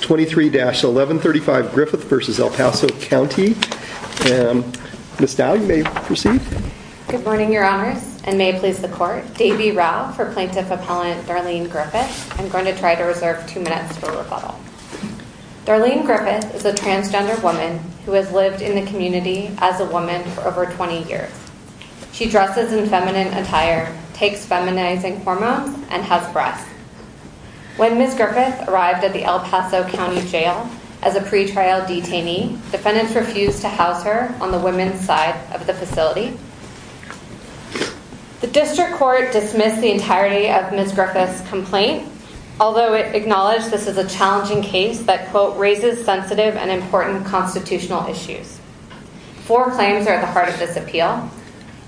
23-1135 Griffith v. El Paso County Darlene Griffith is a transgender woman who has lived in the community as a woman for over 20 years. She dresses in feminine attire, takes feminizing hormones, and has breasts. When Ms. Griffith arrived at the El Paso County Jail as a pretrial detainee, defendants refused to house her on the women's side of the facility. The District Court dismissed the entirety of Ms. Griffith's complaint, although it acknowledged this is a challenging case that, quote, raises sensitive and important constitutional issues. Four claims are at the heart of this appeal.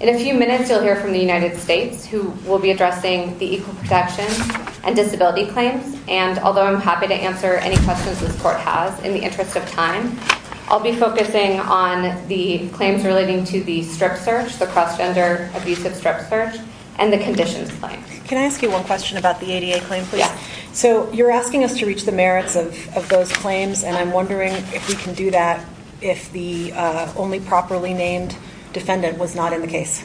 In a few minutes, you'll hear from the United States, who will be addressing the equal protection and disability claims. And although I'm happy to answer any questions this court has, in the interest of time, I'll be focusing on the claims relating to the strip search, the cross-gender abusive strip search, and the conditions claim. Can I ask you one question about the ADA claim, please? Yeah. So you're asking us to reach the merits of those claims, and I'm wondering if we can do that if the only properly named defendant was not in the case.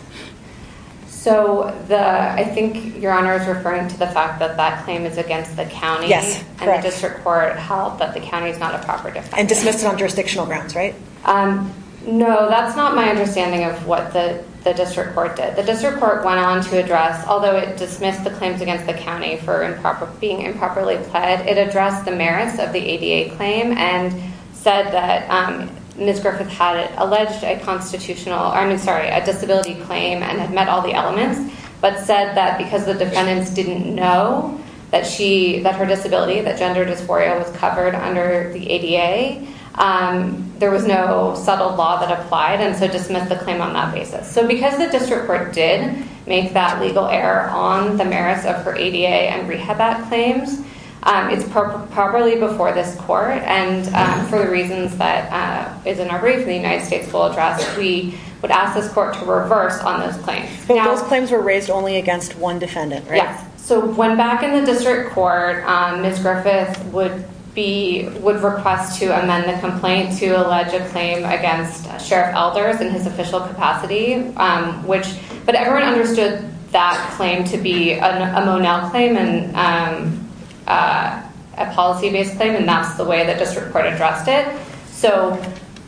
So I think Your Honor is referring to the fact that that claim is against the county. Yes, correct. And the District Court held that the county is not a proper defendant. And dismissed it on jurisdictional grounds, right? No, that's not my understanding of what the District Court did. The District Court went on to address, although it dismissed the claims against the county for being improperly pled, it addressed the merits of the ADA claim and said that Ms. Griffith had alleged a disability claim and had met all the elements, but said that because the defendants didn't know that her disability, that gender dysphoria was covered under the ADA, there was no subtle law that applied, and so dismissed the claim on that basis. So because the District Court did make that legal error on the merits of her ADA and rehab act claims, it's properly before this court, and for the reasons that is in our brief in the United States full address, we would ask this court to reverse on this claim. But those claims were raised only against one defendant, right? Yes. So when back in the District Court, Ms. Griffith would request to amend the complaint to allege a claim against Sheriff Elders in his official capacity, but everyone understood that claim to be a Monell claim, a policy-based claim, and that's the way the District Court addressed it. So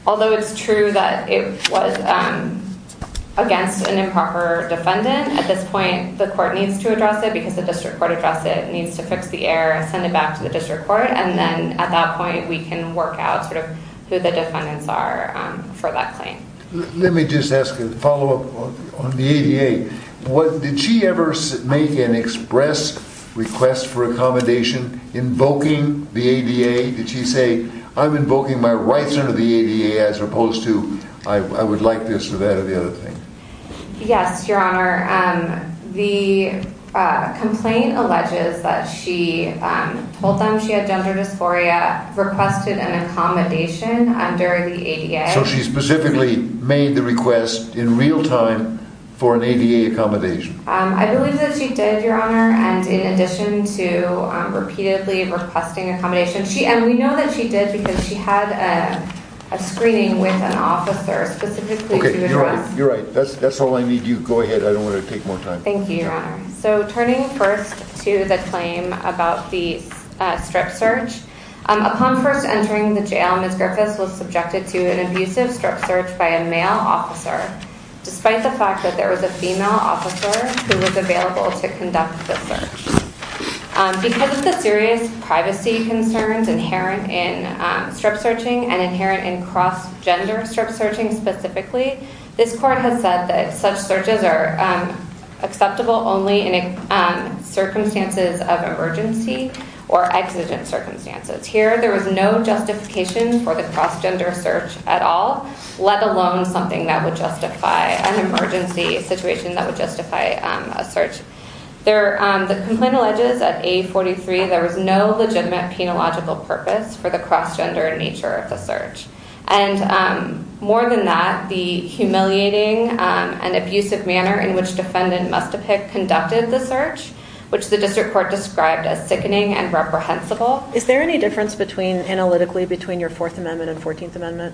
although it's true that it was against an improper defendant, at this point the court needs to address it because the District Court addressed it. It needs to fix the error and send it back to the District Court, and then at that point we can work out who the defendants are for that claim. Let me just ask a follow-up on the ADA. Did she ever make an express request for accommodation invoking the ADA? Did she say, I'm invoking my rights under the ADA as opposed to, I would like this or that or the other thing? Yes, Your Honor. The complaint alleges that she told them she had gender dysphoria, requested an accommodation under the ADA. So she specifically made the request in real time for an ADA accommodation. I believe that she did, Your Honor, and in addition to repeatedly requesting accommodation, and we know that she did because she had a screening with an officer specifically to address. Okay, you're right. That's all I need. You go ahead. I don't want to take more time. Thank you, Your Honor. So turning first to the claim about the strip search, upon first entering the jail, Ms. Griffiths was subjected to an abusive strip search by a male officer, despite the fact that there was a female officer who was available to conduct the search. Because of the serious privacy concerns inherent in strip searching and inherent in cross-gender strip searching specifically, this court has said that such searches are acceptable only in circumstances of emergency or exigent circumstances. Here, there was no justification for the cross-gender search at all, let alone something that would justify an emergency situation that would justify a search. The complaint alleges that A43, there was no legitimate penological purpose for the cross-gender nature of the search. And more than that, the humiliating and abusive manner in which defendant must have conducted the search, which the district court described as sickening and reprehensible. Is there any difference analytically between your Fourth Amendment and Fourteenth Amendment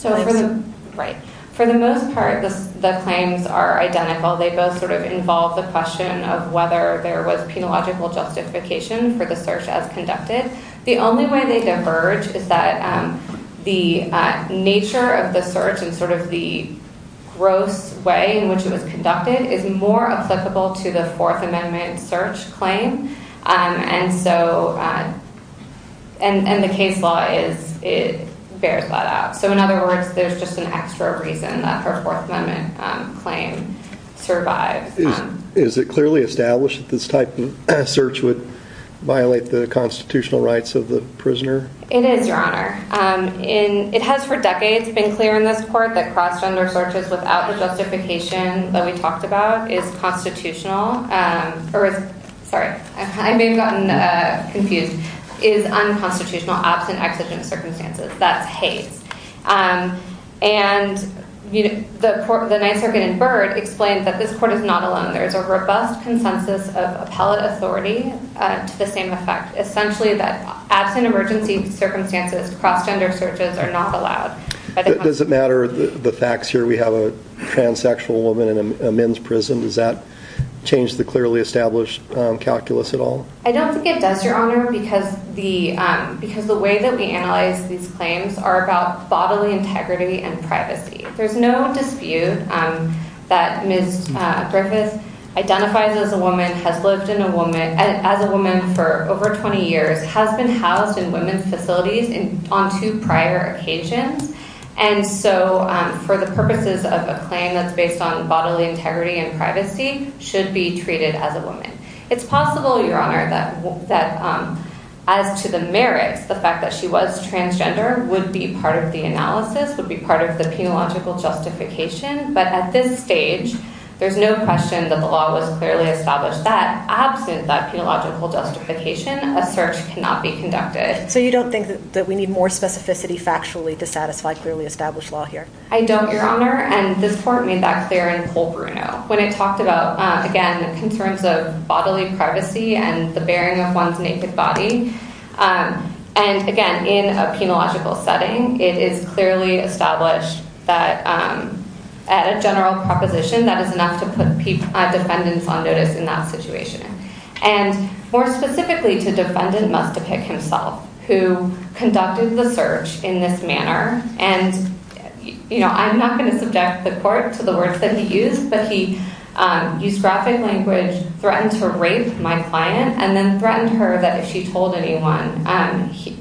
claims? Right. For the most part, the claims are identical. They both sort of involve the question of whether there was penological justification for the search as conducted. The only way they diverge is that the nature of the search and sort of the gross way in which it was conducted is more applicable to the Fourth Amendment search claim. And the case law bears that out. So in other words, there's just an extra reason that her Fourth Amendment claim survived. Is it clearly established that this type of search would violate the constitutional rights of the prisoner? It is, Your Honor. It has for decades been clear in this court that cross-gender searches without the justification that we talked about is constitutional. Sorry, I may have gotten confused. Is unconstitutional absent exigent circumstances. That's Hays. And the Ninth Circuit in Byrd explained that this court is not alone. There is a robust consensus of appellate authority to the same effect. Essentially that absent emergency circumstances, cross-gender searches are not allowed. Does it matter the facts here? We have a transsexual woman in a men's prison. Does that change the clearly established calculus at all? I don't think it does, Your Honor, because the way that we analyze these claims are about bodily integrity and privacy. There's no dispute that Ms. Griffith identifies as a woman, has lived as a woman for over 20 years, has been housed in women's facilities on two prior occasions, and so for the purposes of a claim that's based on bodily integrity and privacy, should be treated as a woman. It's possible, Your Honor, that as to the merits, the fact that she was transgender would be part of the analysis, would be part of the penological justification, but at this stage, there's no question that the law was clearly established that absent that penological justification, a search cannot be conducted. So you don't think that we need more specificity factually to satisfy clearly established law here? I don't, Your Honor, and this court made that clear in Paul Bruno. When it talked about, again, the concerns of bodily privacy and the bearing of one's naked body, and again, in a penological setting, it is clearly established that at a general proposition, that is enough to put defendants on notice in that situation. And more specifically to defendant must depict himself, who conducted the search in this manner, and I'm not going to subject the court to the words that he used, but he used graphic language, threatened to rape my client, and then threatened her that if she told anyone,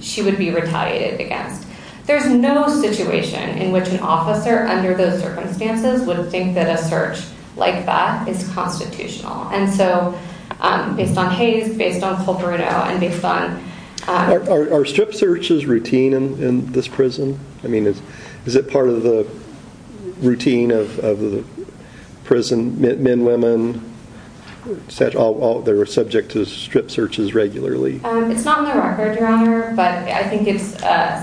she would be retaliated against. There's no situation in which an officer under those circumstances would think that a search like that is constitutional. And so based on Hayes, based on Paul Bruno, and based on... Are strip searches routine in this prison? I mean, is it part of the routine of the prison, men, women, they're subject to strip searches regularly? It's not on the record, Your Honor, but I think it's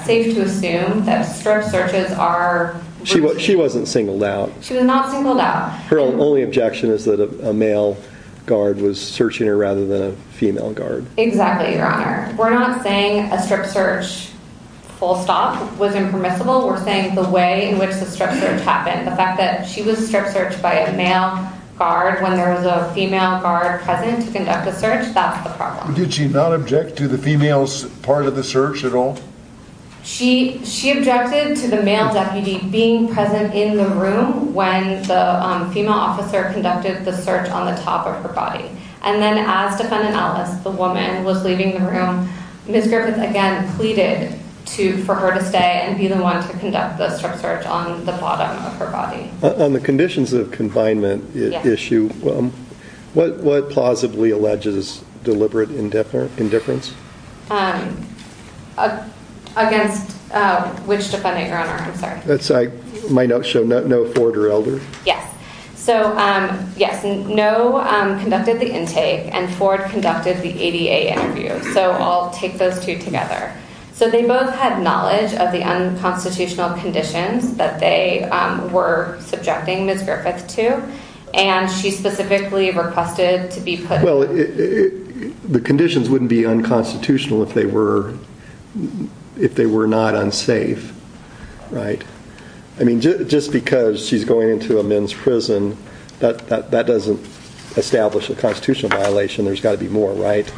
safe to assume that strip searches are... She wasn't singled out. She was not singled out. Her only objection is that a male guard was searching her rather than a female guard. Exactly, Your Honor. We're not saying a strip search full stop was impermissible. We're saying the way in which the strip search happened, the fact that she was strip searched by a male guard when there was a female guard present to conduct the search, that's the problem. Did she not object to the female's part of the search at all? She objected to the male deputy being present in the room when the female officer conducted the search on the top of her body. And then as Defendant Ellis, the woman who was leaving the room, Ms. Griffith, again, pleaded for her to stay and be the one to conduct the strip search on the bottom of her body. On the conditions of confinement issue, what plausibly alleges deliberate indifference? Against which defendant, Your Honor? I'm sorry. My note showed no forward or elder. Yes. So, yes, no conducted the intake and forward conducted the ADA interview. So I'll take those two together. So they both had knowledge of the unconstitutional conditions that they were subjecting Ms. Griffith to. And she specifically requested to be put. Well, the conditions wouldn't be unconstitutional if they were if they were not unsafe. Right. I mean, just because she's going into a men's prison, that doesn't establish a constitutional violation. There's got to be more. Right.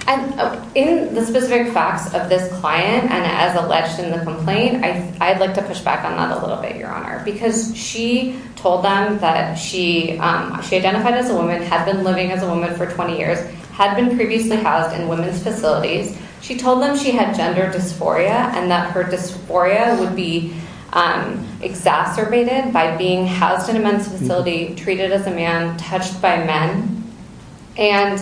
In the specific facts of this client and as alleged in the complaint, I'd like to push back on that a little bit, Your Honor, because she told them that she identified as a woman, had been living as a woman for 20 years, had been previously housed in women's facilities. She told them she had gender dysphoria and that her dysphoria would be exacerbated by being housed in a men's facility, treated as a man, touched by men. And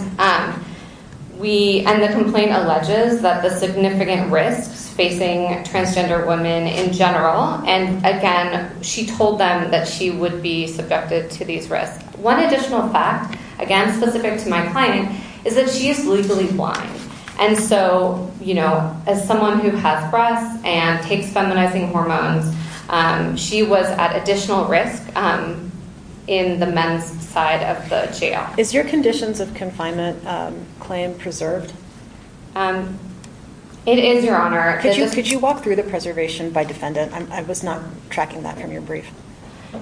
we and the complaint alleges that the significant risks facing transgender women in general. And again, she told them that she would be subjected to these risks. One additional fact, again, specific to my client, is that she is legally blind. And so, you know, as someone who has breasts and takes feminizing hormones, she was at additional risk in the men's side of the jail. Is your conditions of confinement claim preserved? It is, Your Honor. Could you walk through the preservation by defendant? I was not tracking that from your brief.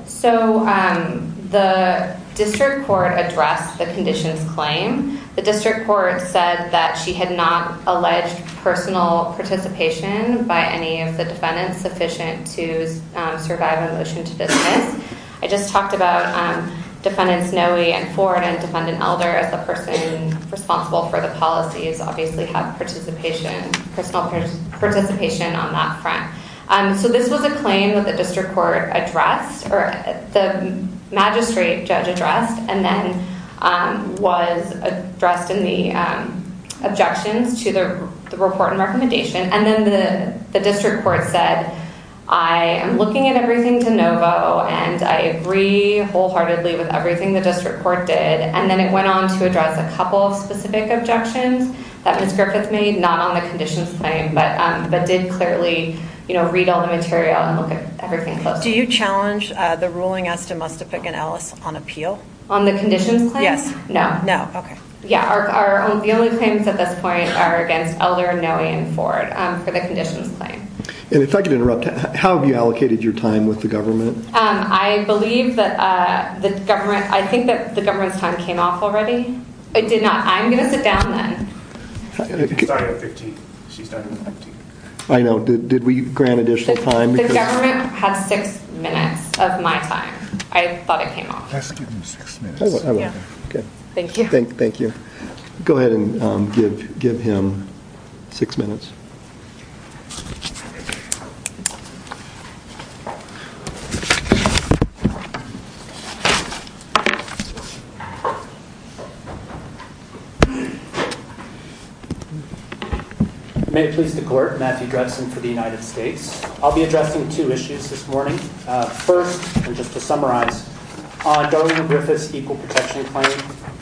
So the district court addressed the conditions claim. The district court said that she had not alleged personal participation by any of the defendants sufficient to survive a motion to dismiss. I just talked about Defendant Snowy and Ford and Defendant Elder as the person responsible for the policies, obviously had participation, personal participation on that front. So this was a claim that the district court addressed, or the magistrate judge addressed, and then was addressed in the objections to the report and recommendation. And then the district court said, I am looking at everything de novo and I agree wholeheartedly with everything the district court did. And then it went on to address a couple of specific objections that Ms. Griffith made, not on the conditions claim, but did clearly read all the material and look at everything closely. Do you challenge the ruling as to Mustafik and Ellis on appeal? On the conditions claim? Yes. No. No. Okay. Yeah. The only claims at this point are against Elder, Snowy, and Ford for the conditions claim. And if I could interrupt, how have you allocated your time with the government? I believe that the government, I think that the government's time came off already. It did not. I'm going to sit down then. She started at 15. She started at 15. I know. Did we grant additional time? The government had six minutes of my time. I thought it came off. Let's give them six minutes. Okay. Thank you. Thank you. Go ahead and give him six minutes. May it please the court. Matthew Drebsen for the United States. I'll be addressing two issues this morning. First, and just to summarize, on Darlene Griffith's equal protection claim,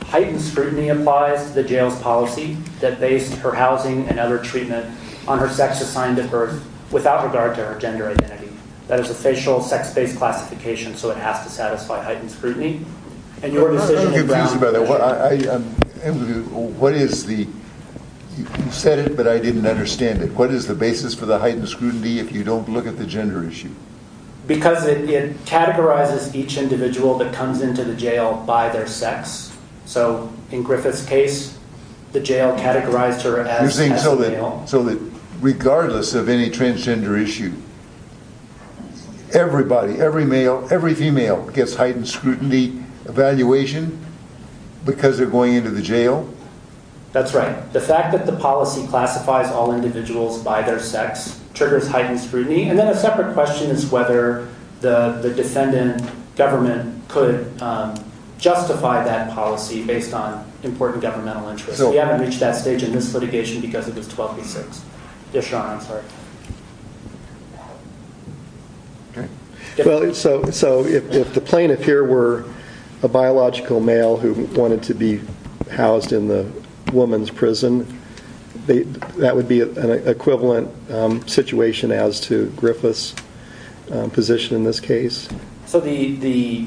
heightened scrutiny applies to the jail's policy that based her housing and other treatment on her sex assigned at birth without regard to her gender identity. That is a facial, sex-based classification, so it has to satisfy heightened scrutiny. You said it, but I didn't understand it. What is the basis for the heightened scrutiny if you don't look at the gender issue? Because it categorizes each individual that comes into the jail by their sex. In Griffith's case, the jail categorized her as male. You're saying so that regardless of any transgender issue, everybody, every male, gets heightened scrutiny evaluation because they're going into the jail? That's right. The fact that the policy classifies all individuals by their sex triggers heightened scrutiny. And then a separate question is whether the defendant government could justify that policy based on important governmental interests. We haven't reached that stage in this litigation because it was 12 v. 6. Yeah, Sean, I'm sorry. All right. So if the plaintiff here were a biological male who wanted to be housed in the woman's prison, that would be an equivalent situation as to Griffith's position in this case? So the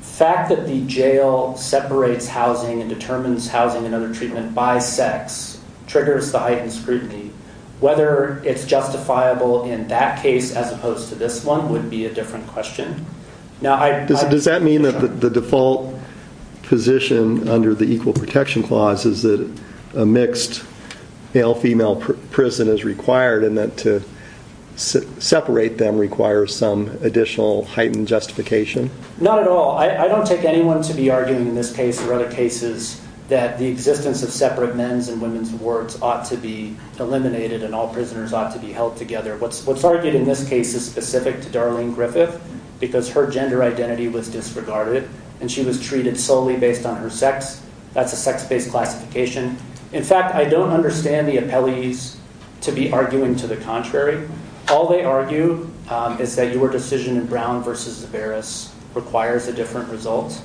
fact that the jail separates housing and determines housing and other treatment by sex triggers the heightened scrutiny. Whether it's justifiable in that case as opposed to this one would be a different question. Does that mean that the default position under the Equal Protection Clause is that a mixed male-female prison is required and that to separate them requires some additional heightened justification? Not at all. I don't take anyone to be arguing in this case or other cases that the existence of separate men's and women's wards ought to be eliminated and all prisoners ought to be held together. What's argued in this case is specific to Darlene Griffith because her gender identity was disregarded and she was treated solely based on her sex. That's a sex-based classification. In fact, I don't understand the appellees to be arguing to the contrary. All they argue is that your decision in Brown v. Zaveris requires a different result.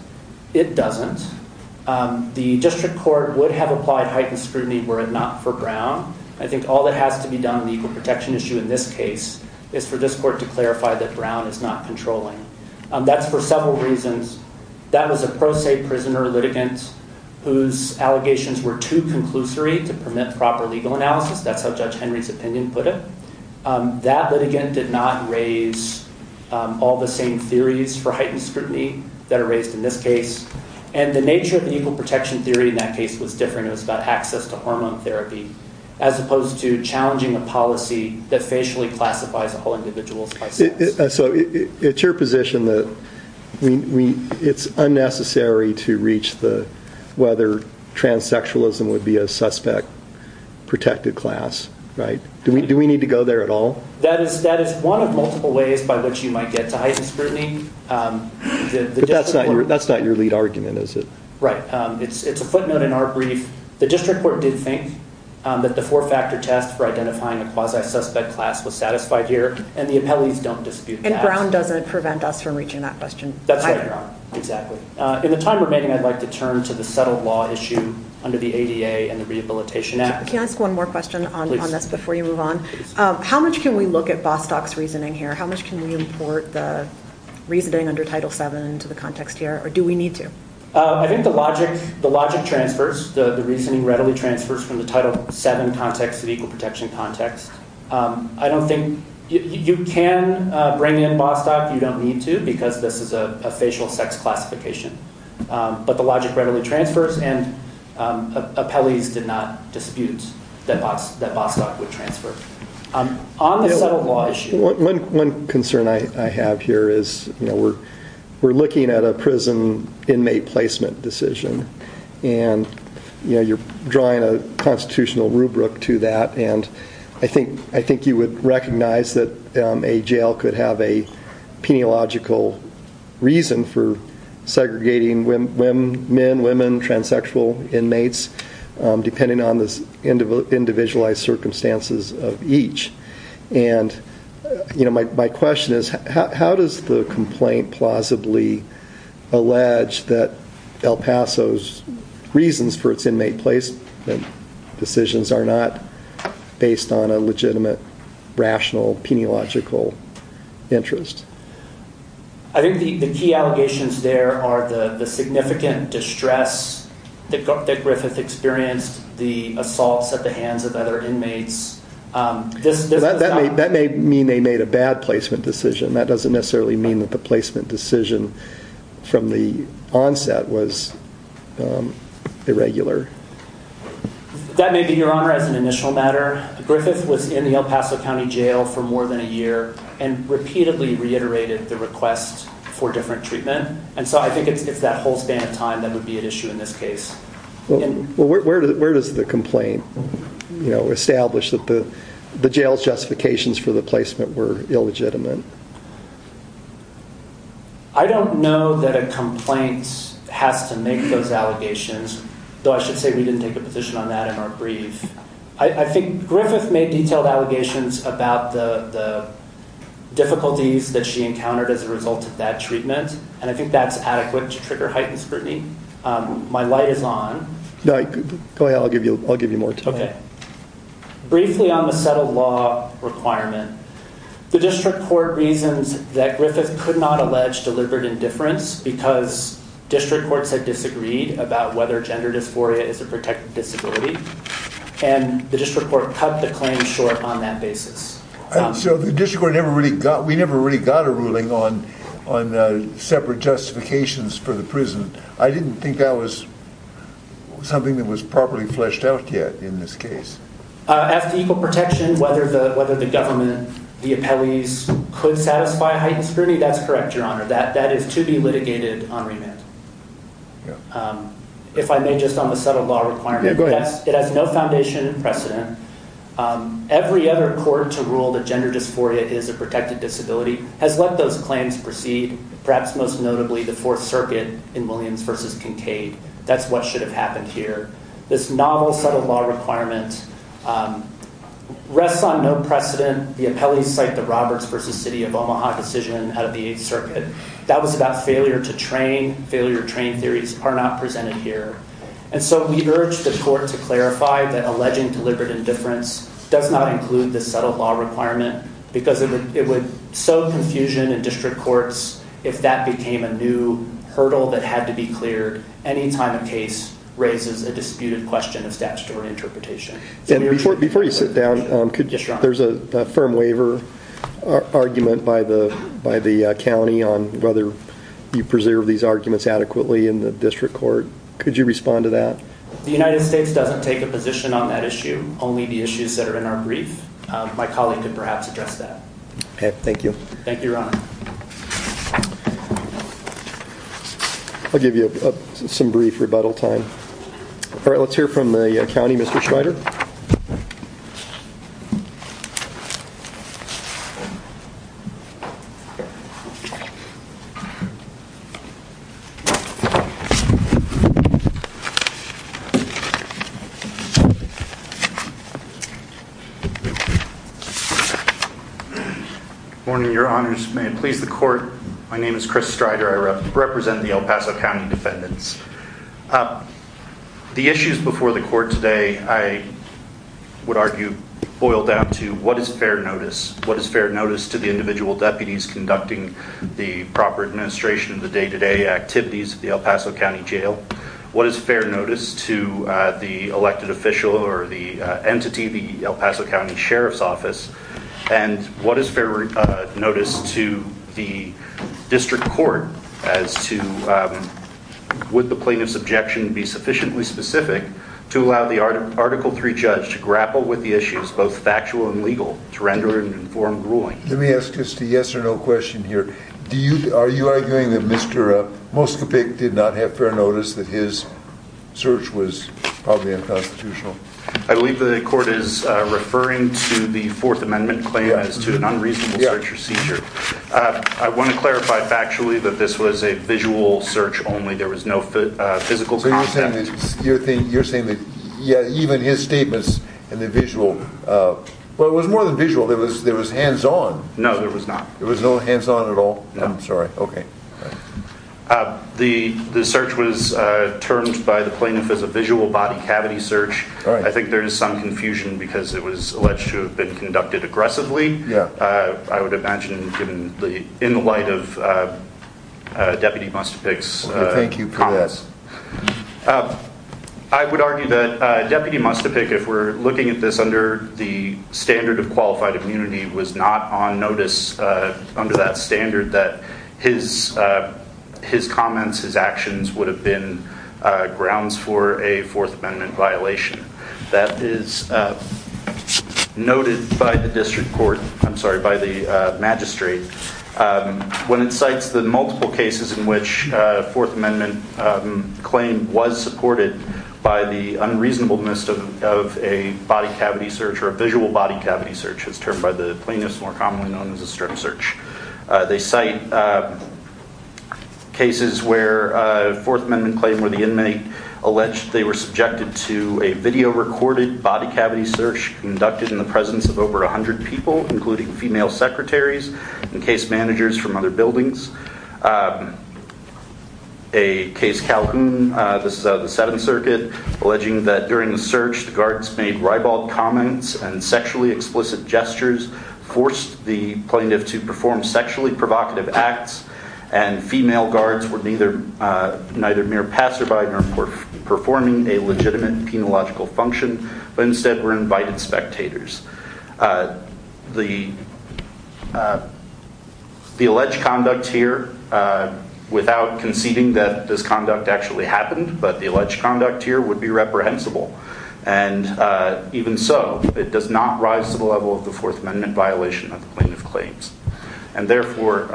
It doesn't. The district court would have applied heightened scrutiny were it not for Brown. I think all that has to be done in the equal protection issue in this case is for this court to clarify that Brown is not controlling. That's for several reasons. That was a pro se prisoner litigant whose allegations were too conclusory to permit proper legal analysis. That's how Judge Henry's opinion put it. That litigant did not raise all the same theories for heightened scrutiny that are raised in this case. The nature of the equal protection theory in that case was different. It was about access to hormone therapy as opposed to challenging a policy that facially classifies all individuals by sex. It's your position that it's unnecessary to reach whether transsexualism would be a suspect protected class. Do we need to go there at all? That is one of multiple ways by which you might get to heightened scrutiny. But that's not your lead argument, is it? Right. It's a footnote in our brief. The district court did think that the four-factor test for identifying a quasi-suspect class was satisfied here and the appellees don't dispute that. And Brown doesn't prevent us from reaching that question. That's right, exactly. In the time remaining, I'd like to turn to the settled law issue under the ADA and the Rehabilitation Act. Can I ask one more question on this before you move on? How much can we look at Bostock's reasoning here? How much can we import the reasoning under Title VII into the context here? Or do we need to? I think the logic transfers, the reasoning readily transfers from the Title VII context to the equal protection context. I don't think you can bring in Bostock. You don't need to because this is a facial sex classification. But the logic readily transfers and appellees did not dispute that Bostock would transfer. On the settled law issue. One concern I have here is we're looking at a prison inmate placement decision and you're drawing a constitutional rubric to that and I think you would recognize that a jail could have a peniological reason for segregating men, women, transsexual inmates depending on the individualized circumstances of each. My question is how does the complaint plausibly allege that El Paso's reasons for its inmate placement decisions are not based on a legitimate, rational, peniological interest? I think the key allegations there are the significant distress that Griffith experienced, the assaults at the hands of other inmates. That may mean they made a bad placement decision. That doesn't necessarily mean that the placement decision from the onset was irregular. That may be your honor as an initial matter. Griffith was in the El Paso County Jail for more than a year and repeatedly reiterated the request for different treatment and so I think it's that whole span of time that would be at issue in this case. Where does the complaint establish that the jail's justifications for the placement were illegitimate? I don't know that a complaint has to make those allegations though I should say we didn't take a position on that in our brief. I think Griffith made detailed allegations about the difficulties that she encountered as a result of that treatment and I think that's adequate to trigger heightened scrutiny. My light is on. Go ahead, I'll give you more time. Briefly on the settled law requirement, the district court reasons that Griffith could not allege deliberate indifference because district courts had disagreed about whether gender dysphoria is a protected disability and the district court cut the claim short on that basis. So the district court never really got, we never really got a ruling on separate justifications for the prison. I didn't think that was something that was properly fleshed out yet in this case. As to equal protection, whether the government, the appellees, could satisfy heightened scrutiny, that's correct, your honor. That is to be litigated on remand. If I may just on the settled law requirement. It has no foundation precedent. Every other court to rule that gender dysphoria is a protected disability has let those claims proceed, perhaps most notably the Fourth Circuit in Williams v. Kincaid. That's what should have happened here. This novel settled law requirement rests on no precedent. The appellees cite the Roberts v. City of Omaha decision out of the Eighth Circuit. That was about failure to train. Failure to train theories are not presented here. And so we urge the court to clarify that alleging deliberate indifference does not include the settled law requirement because it would sow confusion in district courts if that became a new hurdle that had to be cleared any time a case raises a disputed question of statutory interpretation. Before you sit down, there's a firm waiver argument by the county on whether you preserve these arguments adequately in the district court. Could you respond to that? The United States doesn't take a position on that issue, only the issues that are in our brief. My colleague could perhaps address that. Okay, thank you. Thank you, Your Honor. I'll give you some brief rebuttal time. All right, let's hear from the county, Mr. Schneider. Morning, Your Honors. May it please the court. My name is Chris Strider. I represent the El Paso County defendants. The issues before the court today, I would argue, boil down to what is fair notice? What is fair notice to the individual deputies conducting the proper administration of the day-to-day activities of the El Paso County Jail? What is fair notice to the elected official or the entity, the El Paso County Sheriff's Office? And what is fair notice to the district court as to would the plaintiff's objection be sufficiently specific to allow the Article III judge to grapple with the issues, both factual and legal, to render an informed ruling? Let me ask just a yes or no question here. Are you arguing that Mr. Moskopik did not have fair notice, that his search was probably unconstitutional? I believe the court is referring to the Fourth Amendment claim as to an unreasonable search or seizure. I want to clarify factually that this was a visual search only. There was no physical contact. You're saying that even his statements in the visual, well, it was more than visual. There was hands-on. No, there was not. There was no hands-on at all? I'm sorry. Okay. The search was termed by the plaintiff as a visual body cavity search. I think there is some confusion because it was alleged to have been conducted aggressively, I would imagine, in the light of Deputy Moskopik's comments. Thank you for this. I would argue that Deputy Moskopik, if we're looking at this under the standard of qualified immunity, was not on notice under that standard that his comments, his actions would have been grounds for a Fourth Amendment violation. That is noted by the magistrate when it cites the multiple cases in which a Fourth Amendment claim was supported by the unreasonableness of a body cavity search or a visual body cavity search, as termed by the plaintiffs more commonly known as a strip search. They cite cases where a Fourth Amendment claim where the inmate alleged they were subjected to a video-recorded body cavity search conducted in the presence of over 100 people, including female secretaries and case managers from other buildings. A case, Calhoun, the Seventh Circuit, alleging that during the search the guards made ribald comments and sexually explicit gestures, forced the plaintiff to perform sexually provocative acts, and female guards were neither mere passerby nor performing a legitimate penological function, but instead were invited spectators. The alleged conduct here, without conceding that this conduct actually happened, but the alleged conduct here would be reprehensible. And even so, it does not rise to the level of the Fourth Amendment violation of the plaintiff claims. And therefore,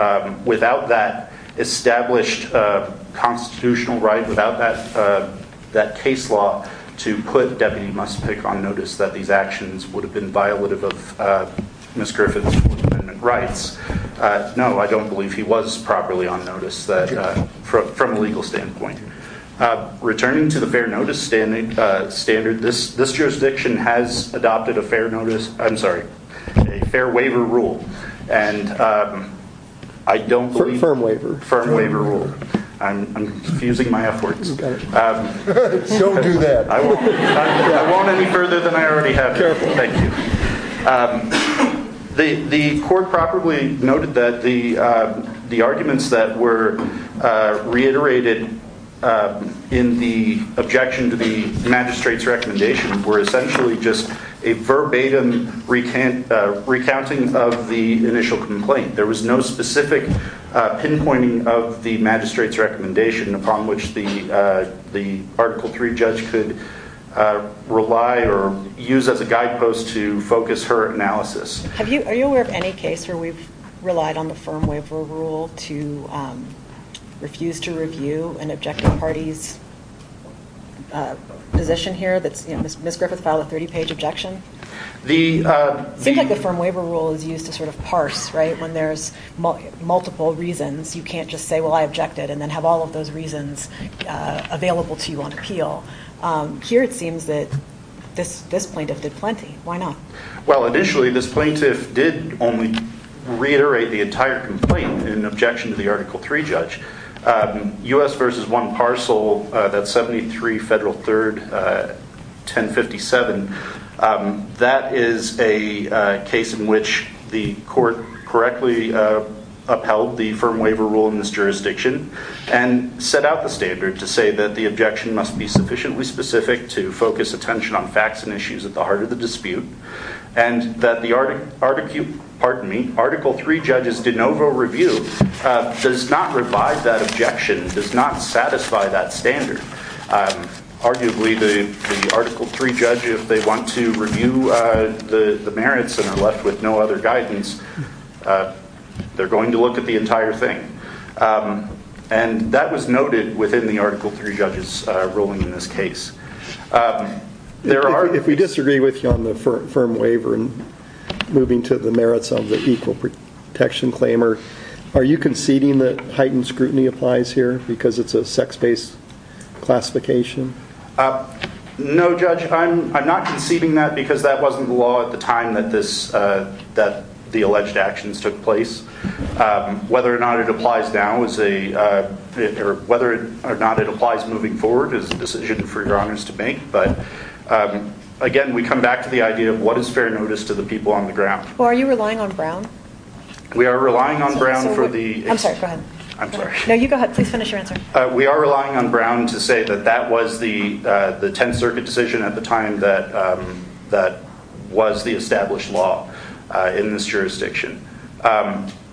without that established constitutional right, without that case law to put Deputy Muspick on notice that these actions would have been violative of Ms. Griffith's Fourth Amendment rights. No, I don't believe he was properly on notice from a legal standpoint. Returning to the fair notice standard, this jurisdiction has adopted a fair notice, I'm sorry, a fair waiver rule. And I don't believe... Firm waiver. Firm waiver rule. I'm confusing my efforts. Don't do that. I won't any further than I already have. Careful. Thank you. The court properly noted that the arguments that were reiterated in the objection to the magistrate's recommendation were essentially just a verbatim recounting of the initial complaint. There was no specific pinpointing of the magistrate's recommendation upon which the Article III judge could rely or use as a guidepost to focus her analysis. Are you aware of any case where we've relied on the firm waiver rule to refuse to review an objective party's position here? Ms. Griffith filed a 30-page objection. Seems like the firm waiver rule is used to sort of parse, right? When there's multiple reasons, you can't just say, well, I objected, and then have all of those reasons available to you on appeal. Here, it seems that this plaintiff did plenty. Why not? Well, initially, this plaintiff did only reiterate the entire complaint in objection to the Article III judge. U.S. v. 1 Parcel, that's 73 Federal 3rd, 1057. That is a case in which the court correctly upheld the firm waiver rule in this jurisdiction and set out the standard to say that the objection must be sufficiently specific to focus attention on facts and issues at the heart of the dispute and that the Article III judge's de novo review does not revive that objection, does not satisfy that standard. Arguably, the Article III judge, if they want to review the merits and are left with no other guidance, they're going to look at the entire thing. And that was noted within the Article III judge's ruling in this case. If we disagree with you on the firm waiver and moving to the merits of the Equal Protection Claimer, are you conceding that heightened scrutiny applies here because it's a sex-based classification? No, Judge, I'm not conceding that because that wasn't the law at the time that the alleged actions took place. Whether or not it applies now, or whether or not it applies moving forward is a decision for your Honours to make. But again, we come back to the idea of what is fair notice to the people on the ground. Well, are you relying on Brown? We are relying on Brown for the... I'm sorry, go ahead. I'm sorry. No, you go ahead. Please finish your answer. We are relying on Brown to say that that was the Tenth Circuit decision at the time that was the established law in this jurisdiction.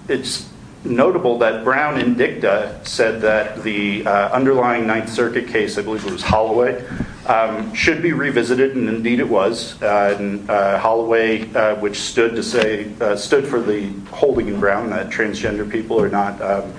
It's notable that Brown in dicta said that the underlying Ninth Circuit case, I believe it was Holloway, should be revisited, and indeed it was. Holloway, which stood for the holding in Brown that transgender people are not...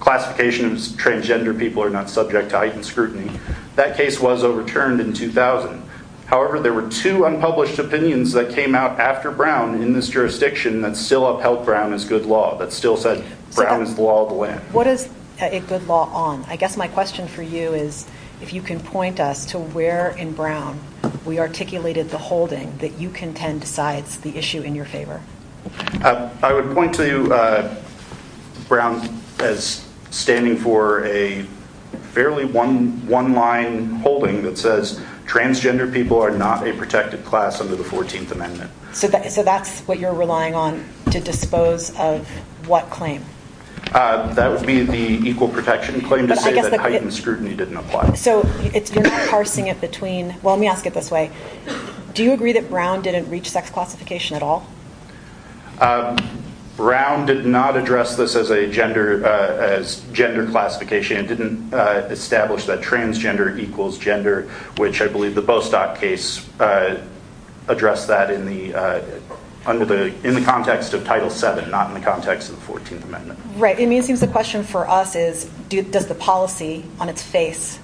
Classification of transgender people are not subject to heightened scrutiny. That case was overturned in 2000. However, there were two unpublished opinions that came out after Brown in this jurisdiction that still said Brown is the law of the land. What is a good law on? I guess my question for you is if you can point us to where in Brown we articulated the holding that you contend decides the issue in your favor. I would point to Brown as standing for a fairly one-line holding that says transgender people are not a protected class under the 14th Amendment. So that's what you're relying on to dispose of what claim? That would be the equal protection claim to say that heightened scrutiny didn't apply. So you're not parsing it between... Well, let me ask it this way. Do you agree that Brown didn't reach sex classification at all? Brown did not address this as gender classification and didn't establish that transgender equals gender, which I believe the Bostock case addressed that in the context of Title VII, not in the context of the 14th Amendment. It seems the question for us is does the policy on its face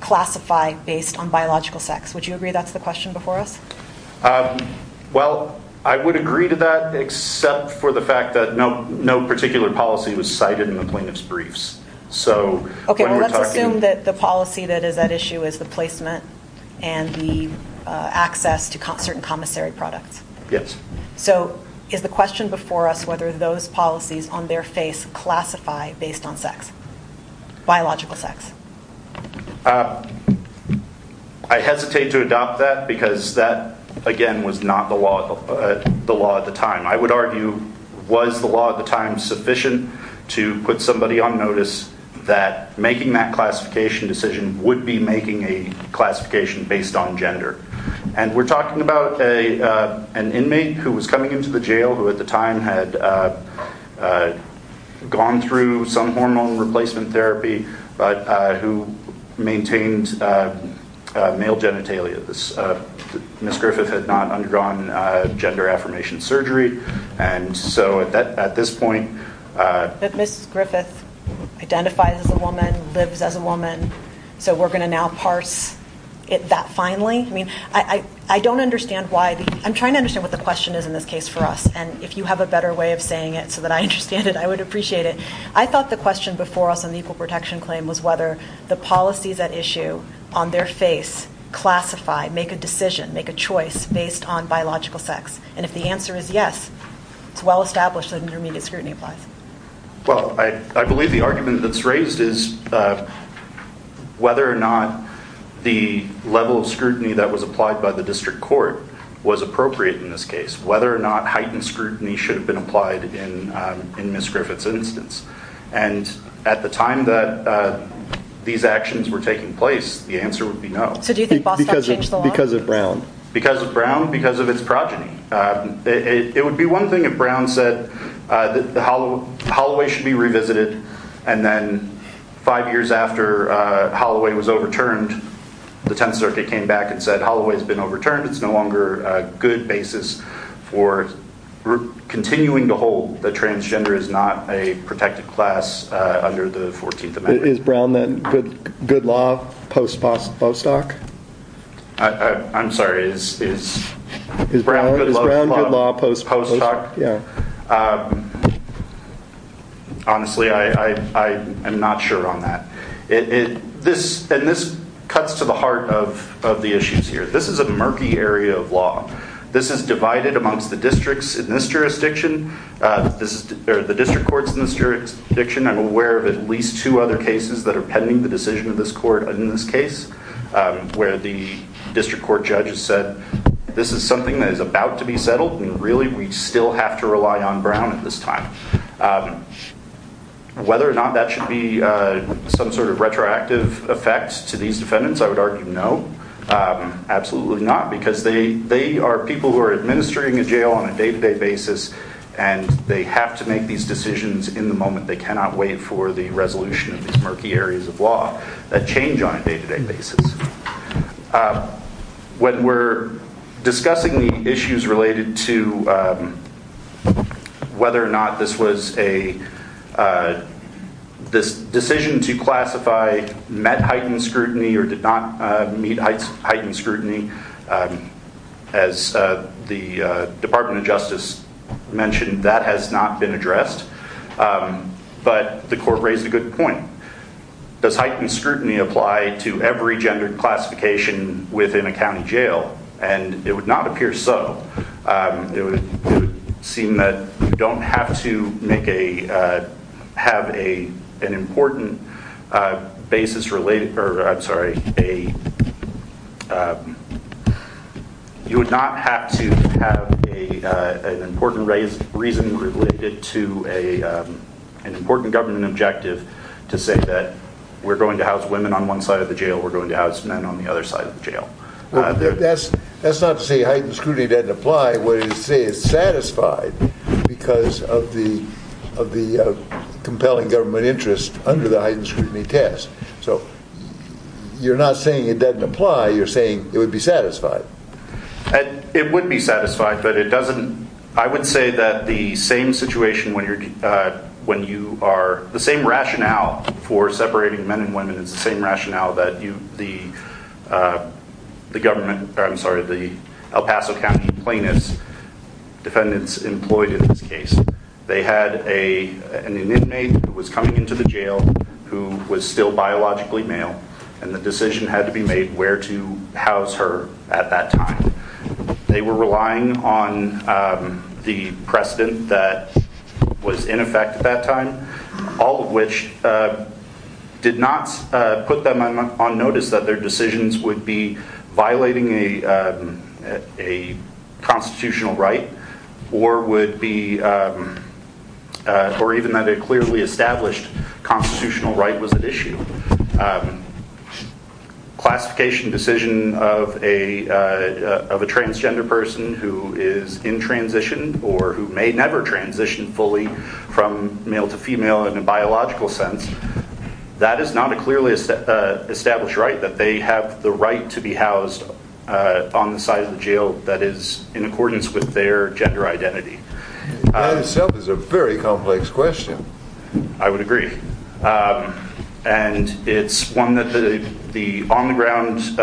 classify based on biological sex? Would you agree that's the question before us? Well, I would agree to that except for the fact that no particular policy was cited in the plaintiff's briefs. Let's assume that the policy that is at issue is the placement and the access to certain commissary products. Yes. So is the question before us whether those policies on their face classify based on sex, biological sex? I hesitate to adopt that because that, again, was not the law at the time. I would argue was the law at the time sufficient to put somebody on notice that making that classification decision would be making a classification based on gender? And we're talking about an inmate who was coming into the jail who at the time had gone through some hormone replacement therapy but who maintained male genitalia. Ms. Griffith had not undergone gender affirmation surgery and so at this point... But Ms. Griffith identifies as a woman, lives as a woman, so we're going to now parse it that finely? I don't understand why... I'm trying to understand what the question is in this case for us and if you have a better way of saying it so that I understand it, I would appreciate it. I thought the question before us on the equal protection claim was whether the policies at issue on their face classify, make a decision, make a choice based on biological sex. And if the answer is yes, it's well established that intermediate scrutiny applies. Well, I believe the argument that's raised is whether or not the level of scrutiny that was applied by the district court was appropriate in this case. Whether or not heightened scrutiny should have been applied in Ms. Griffith's instance. And at the time that these actions were taking place, the answer would be no. So do you think Bostock changed the law? Because of Brown. Because of Brown? Because of its progeny. It would be one thing if Brown said that Holloway should be revisited and then five years after Holloway was overturned, the 10th Circuit came back and said Holloway's been overturned. It's no longer a good basis for continuing to hold that transgender is not a protected class under the 14th Amendment. Is Brown then good law post-Bostock? I'm sorry. Is Brown good law post-Bostock? Yeah. Honestly, I am not sure on that. And this cuts to the heart of the issues here. This is a murky area of law. This is divided amongst the districts in this jurisdiction, or the district courts in this jurisdiction. I'm aware of at least two other cases that are pending the decision of this court in this case where the district court judges said this is something that is about to be settled and really we still have to rely on Brown at this time. Whether or not that should be some sort of retroactive effect to these defendants, I would argue no. Absolutely not, because they are people who are administering a jail on a day-to-day basis and they have to make these decisions in the moment. They cannot wait for the resolution of these murky areas of law that change on a day-to-day basis. When we're discussing the issues related to whether or not this was a... this decision to classify met heightened scrutiny or did not meet heightened scrutiny, as the Department of Justice mentioned, that has not been addressed. But the court raised a good point. Does heightened scrutiny apply to every gender classification within a county jail? And it would not appear so. It would seem that you don't have to make a... have an important basis related... I'm sorry, a... You would not have to have an important reason related to an important government objective to say that we're going to house women on one side of the jail, we're going to house men on the other side of the jail. That's not to say heightened scrutiny doesn't apply. What it is to say it's satisfied because of the compelling government interest under the heightened scrutiny test. So you're not saying it doesn't apply, you're saying it would be satisfied. It would be satisfied, but it doesn't... I would say that the same situation when you're... when you are... the same rationale for separating men and women is the same rationale that you... the government... I'm sorry, the El Paso County plaintiff's defendants employed in this case. They had an inmate who was coming into the jail who was still biologically male and the decision had to be made where to house her at that time. They were relying on the precedent that was in effect at that time, all of which did not put them on notice that their decisions would be violating a constitutional right or would be... or even that a clearly established constitutional right was at issue. Classification decision of a transgender person who is in transition or who may never transition fully from male to female in a biological sense, that is not a clearly established right that they have the right to be housed on the side of the jail that is in accordance with their gender identity. That itself is a very complex question. I would agree. And it's one that the on-the-ground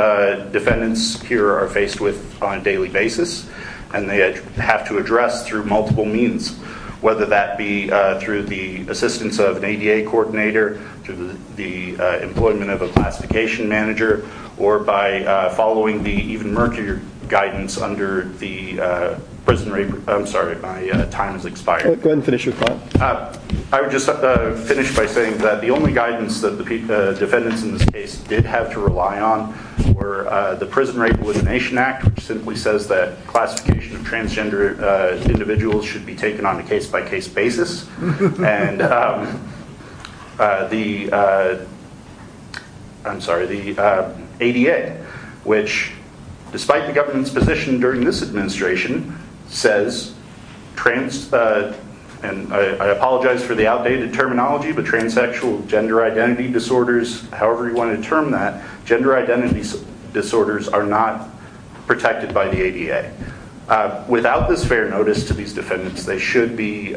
defendants here are faced with on a daily basis and they have to address through multiple means, whether that be through the assistance of an ADA coordinator, through the employment of a classification manager, or by following the even murkier guidance under the Prison Rape... I'm sorry, my time has expired. Go ahead and finish your thought. I would just finish by saying that the only guidance that the defendants in this case did have to rely on were the Prison Rape Elimination Act, which simply says that classification of transgender individuals should be taken on a case-by-case basis, and the... I'm sorry, the ADA, which, despite the government's position during this administration, says trans... and I apologize for the outdated terminology, but transsexual gender identity disorders, however you want to term that, gender identity disorders are not protected by the ADA. Without this fair notice to these defendants, they should be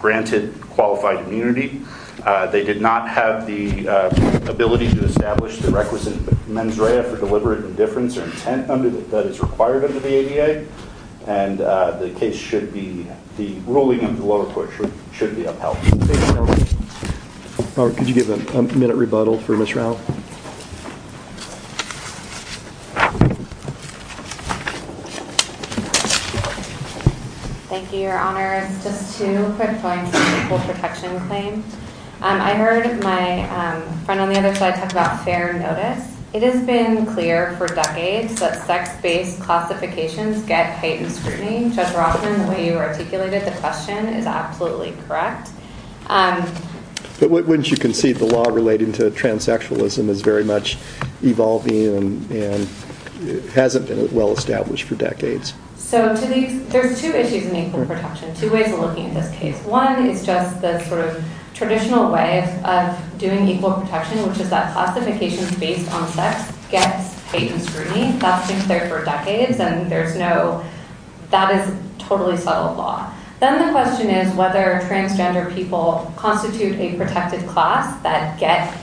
granted qualified immunity. They did not have the ability to establish the requisite mens rea for deliberate indifference or intent that is required under the ADA, and the case should be... the ruling of the lower court should be upheld. Could you give a minute rebuttal for Ms. Rao? Thank you, Your Honors. Just two quick points on the Equal Protection Claim. I heard my friend on the other side talk about fair notice. It has been clear for decades that sex-based classifications get heightened scrutiny. Judge Rothman, the way you articulated the question is absolutely correct. But wouldn't you concede the law relating to transsexualism is very much evolving and hasn't been well-established for decades? There's two issues in equal protection, two ways of looking at this case. One is just the traditional way of doing equal protection, which is that classifications based on sex get heightened scrutiny. That's been clear for decades, and that is totally subtle law. Then the question is whether transgender people constitute a protected class that gets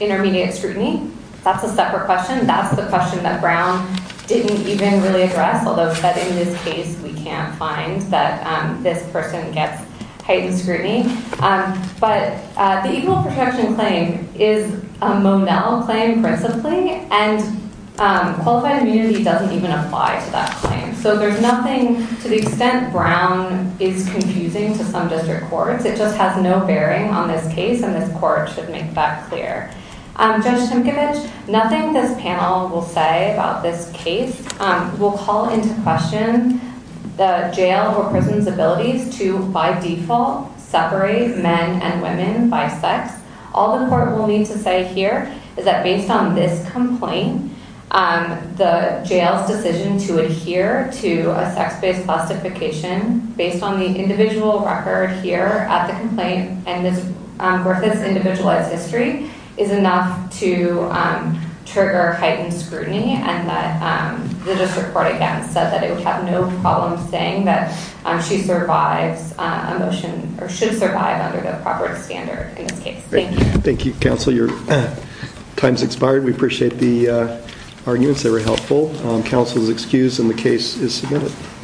intermediate scrutiny. That's a separate question. That's the question that Brown didn't even really address, although said in this case we can't find that this person gets heightened scrutiny. But the Equal Protection Claim is a Monell claim principally, and qualified immunity doesn't even apply to that claim. So there's nothing to the extent Brown is confusing to some district courts. It just has no bearing on this case, and this court should make that clear. Judge Tinkovich, nothing this panel will say about this case. We'll call into question the jail or prison's abilities to, by default, separate men and women by sex. All the court will need to say here is that based on this complaint, the jail's decision to adhere to a sex-based classification based on the individual record here at the complaint worth its individualized history is enough to trigger heightened scrutiny, and that the district court, again, said that it would have no problem saying that she survives a motion, or should survive under the proper standard in this case. Thank you. Thank you, counsel. Your time's expired. We appreciate the arguments. They were helpful. Counsel is excused, and the case is submitted.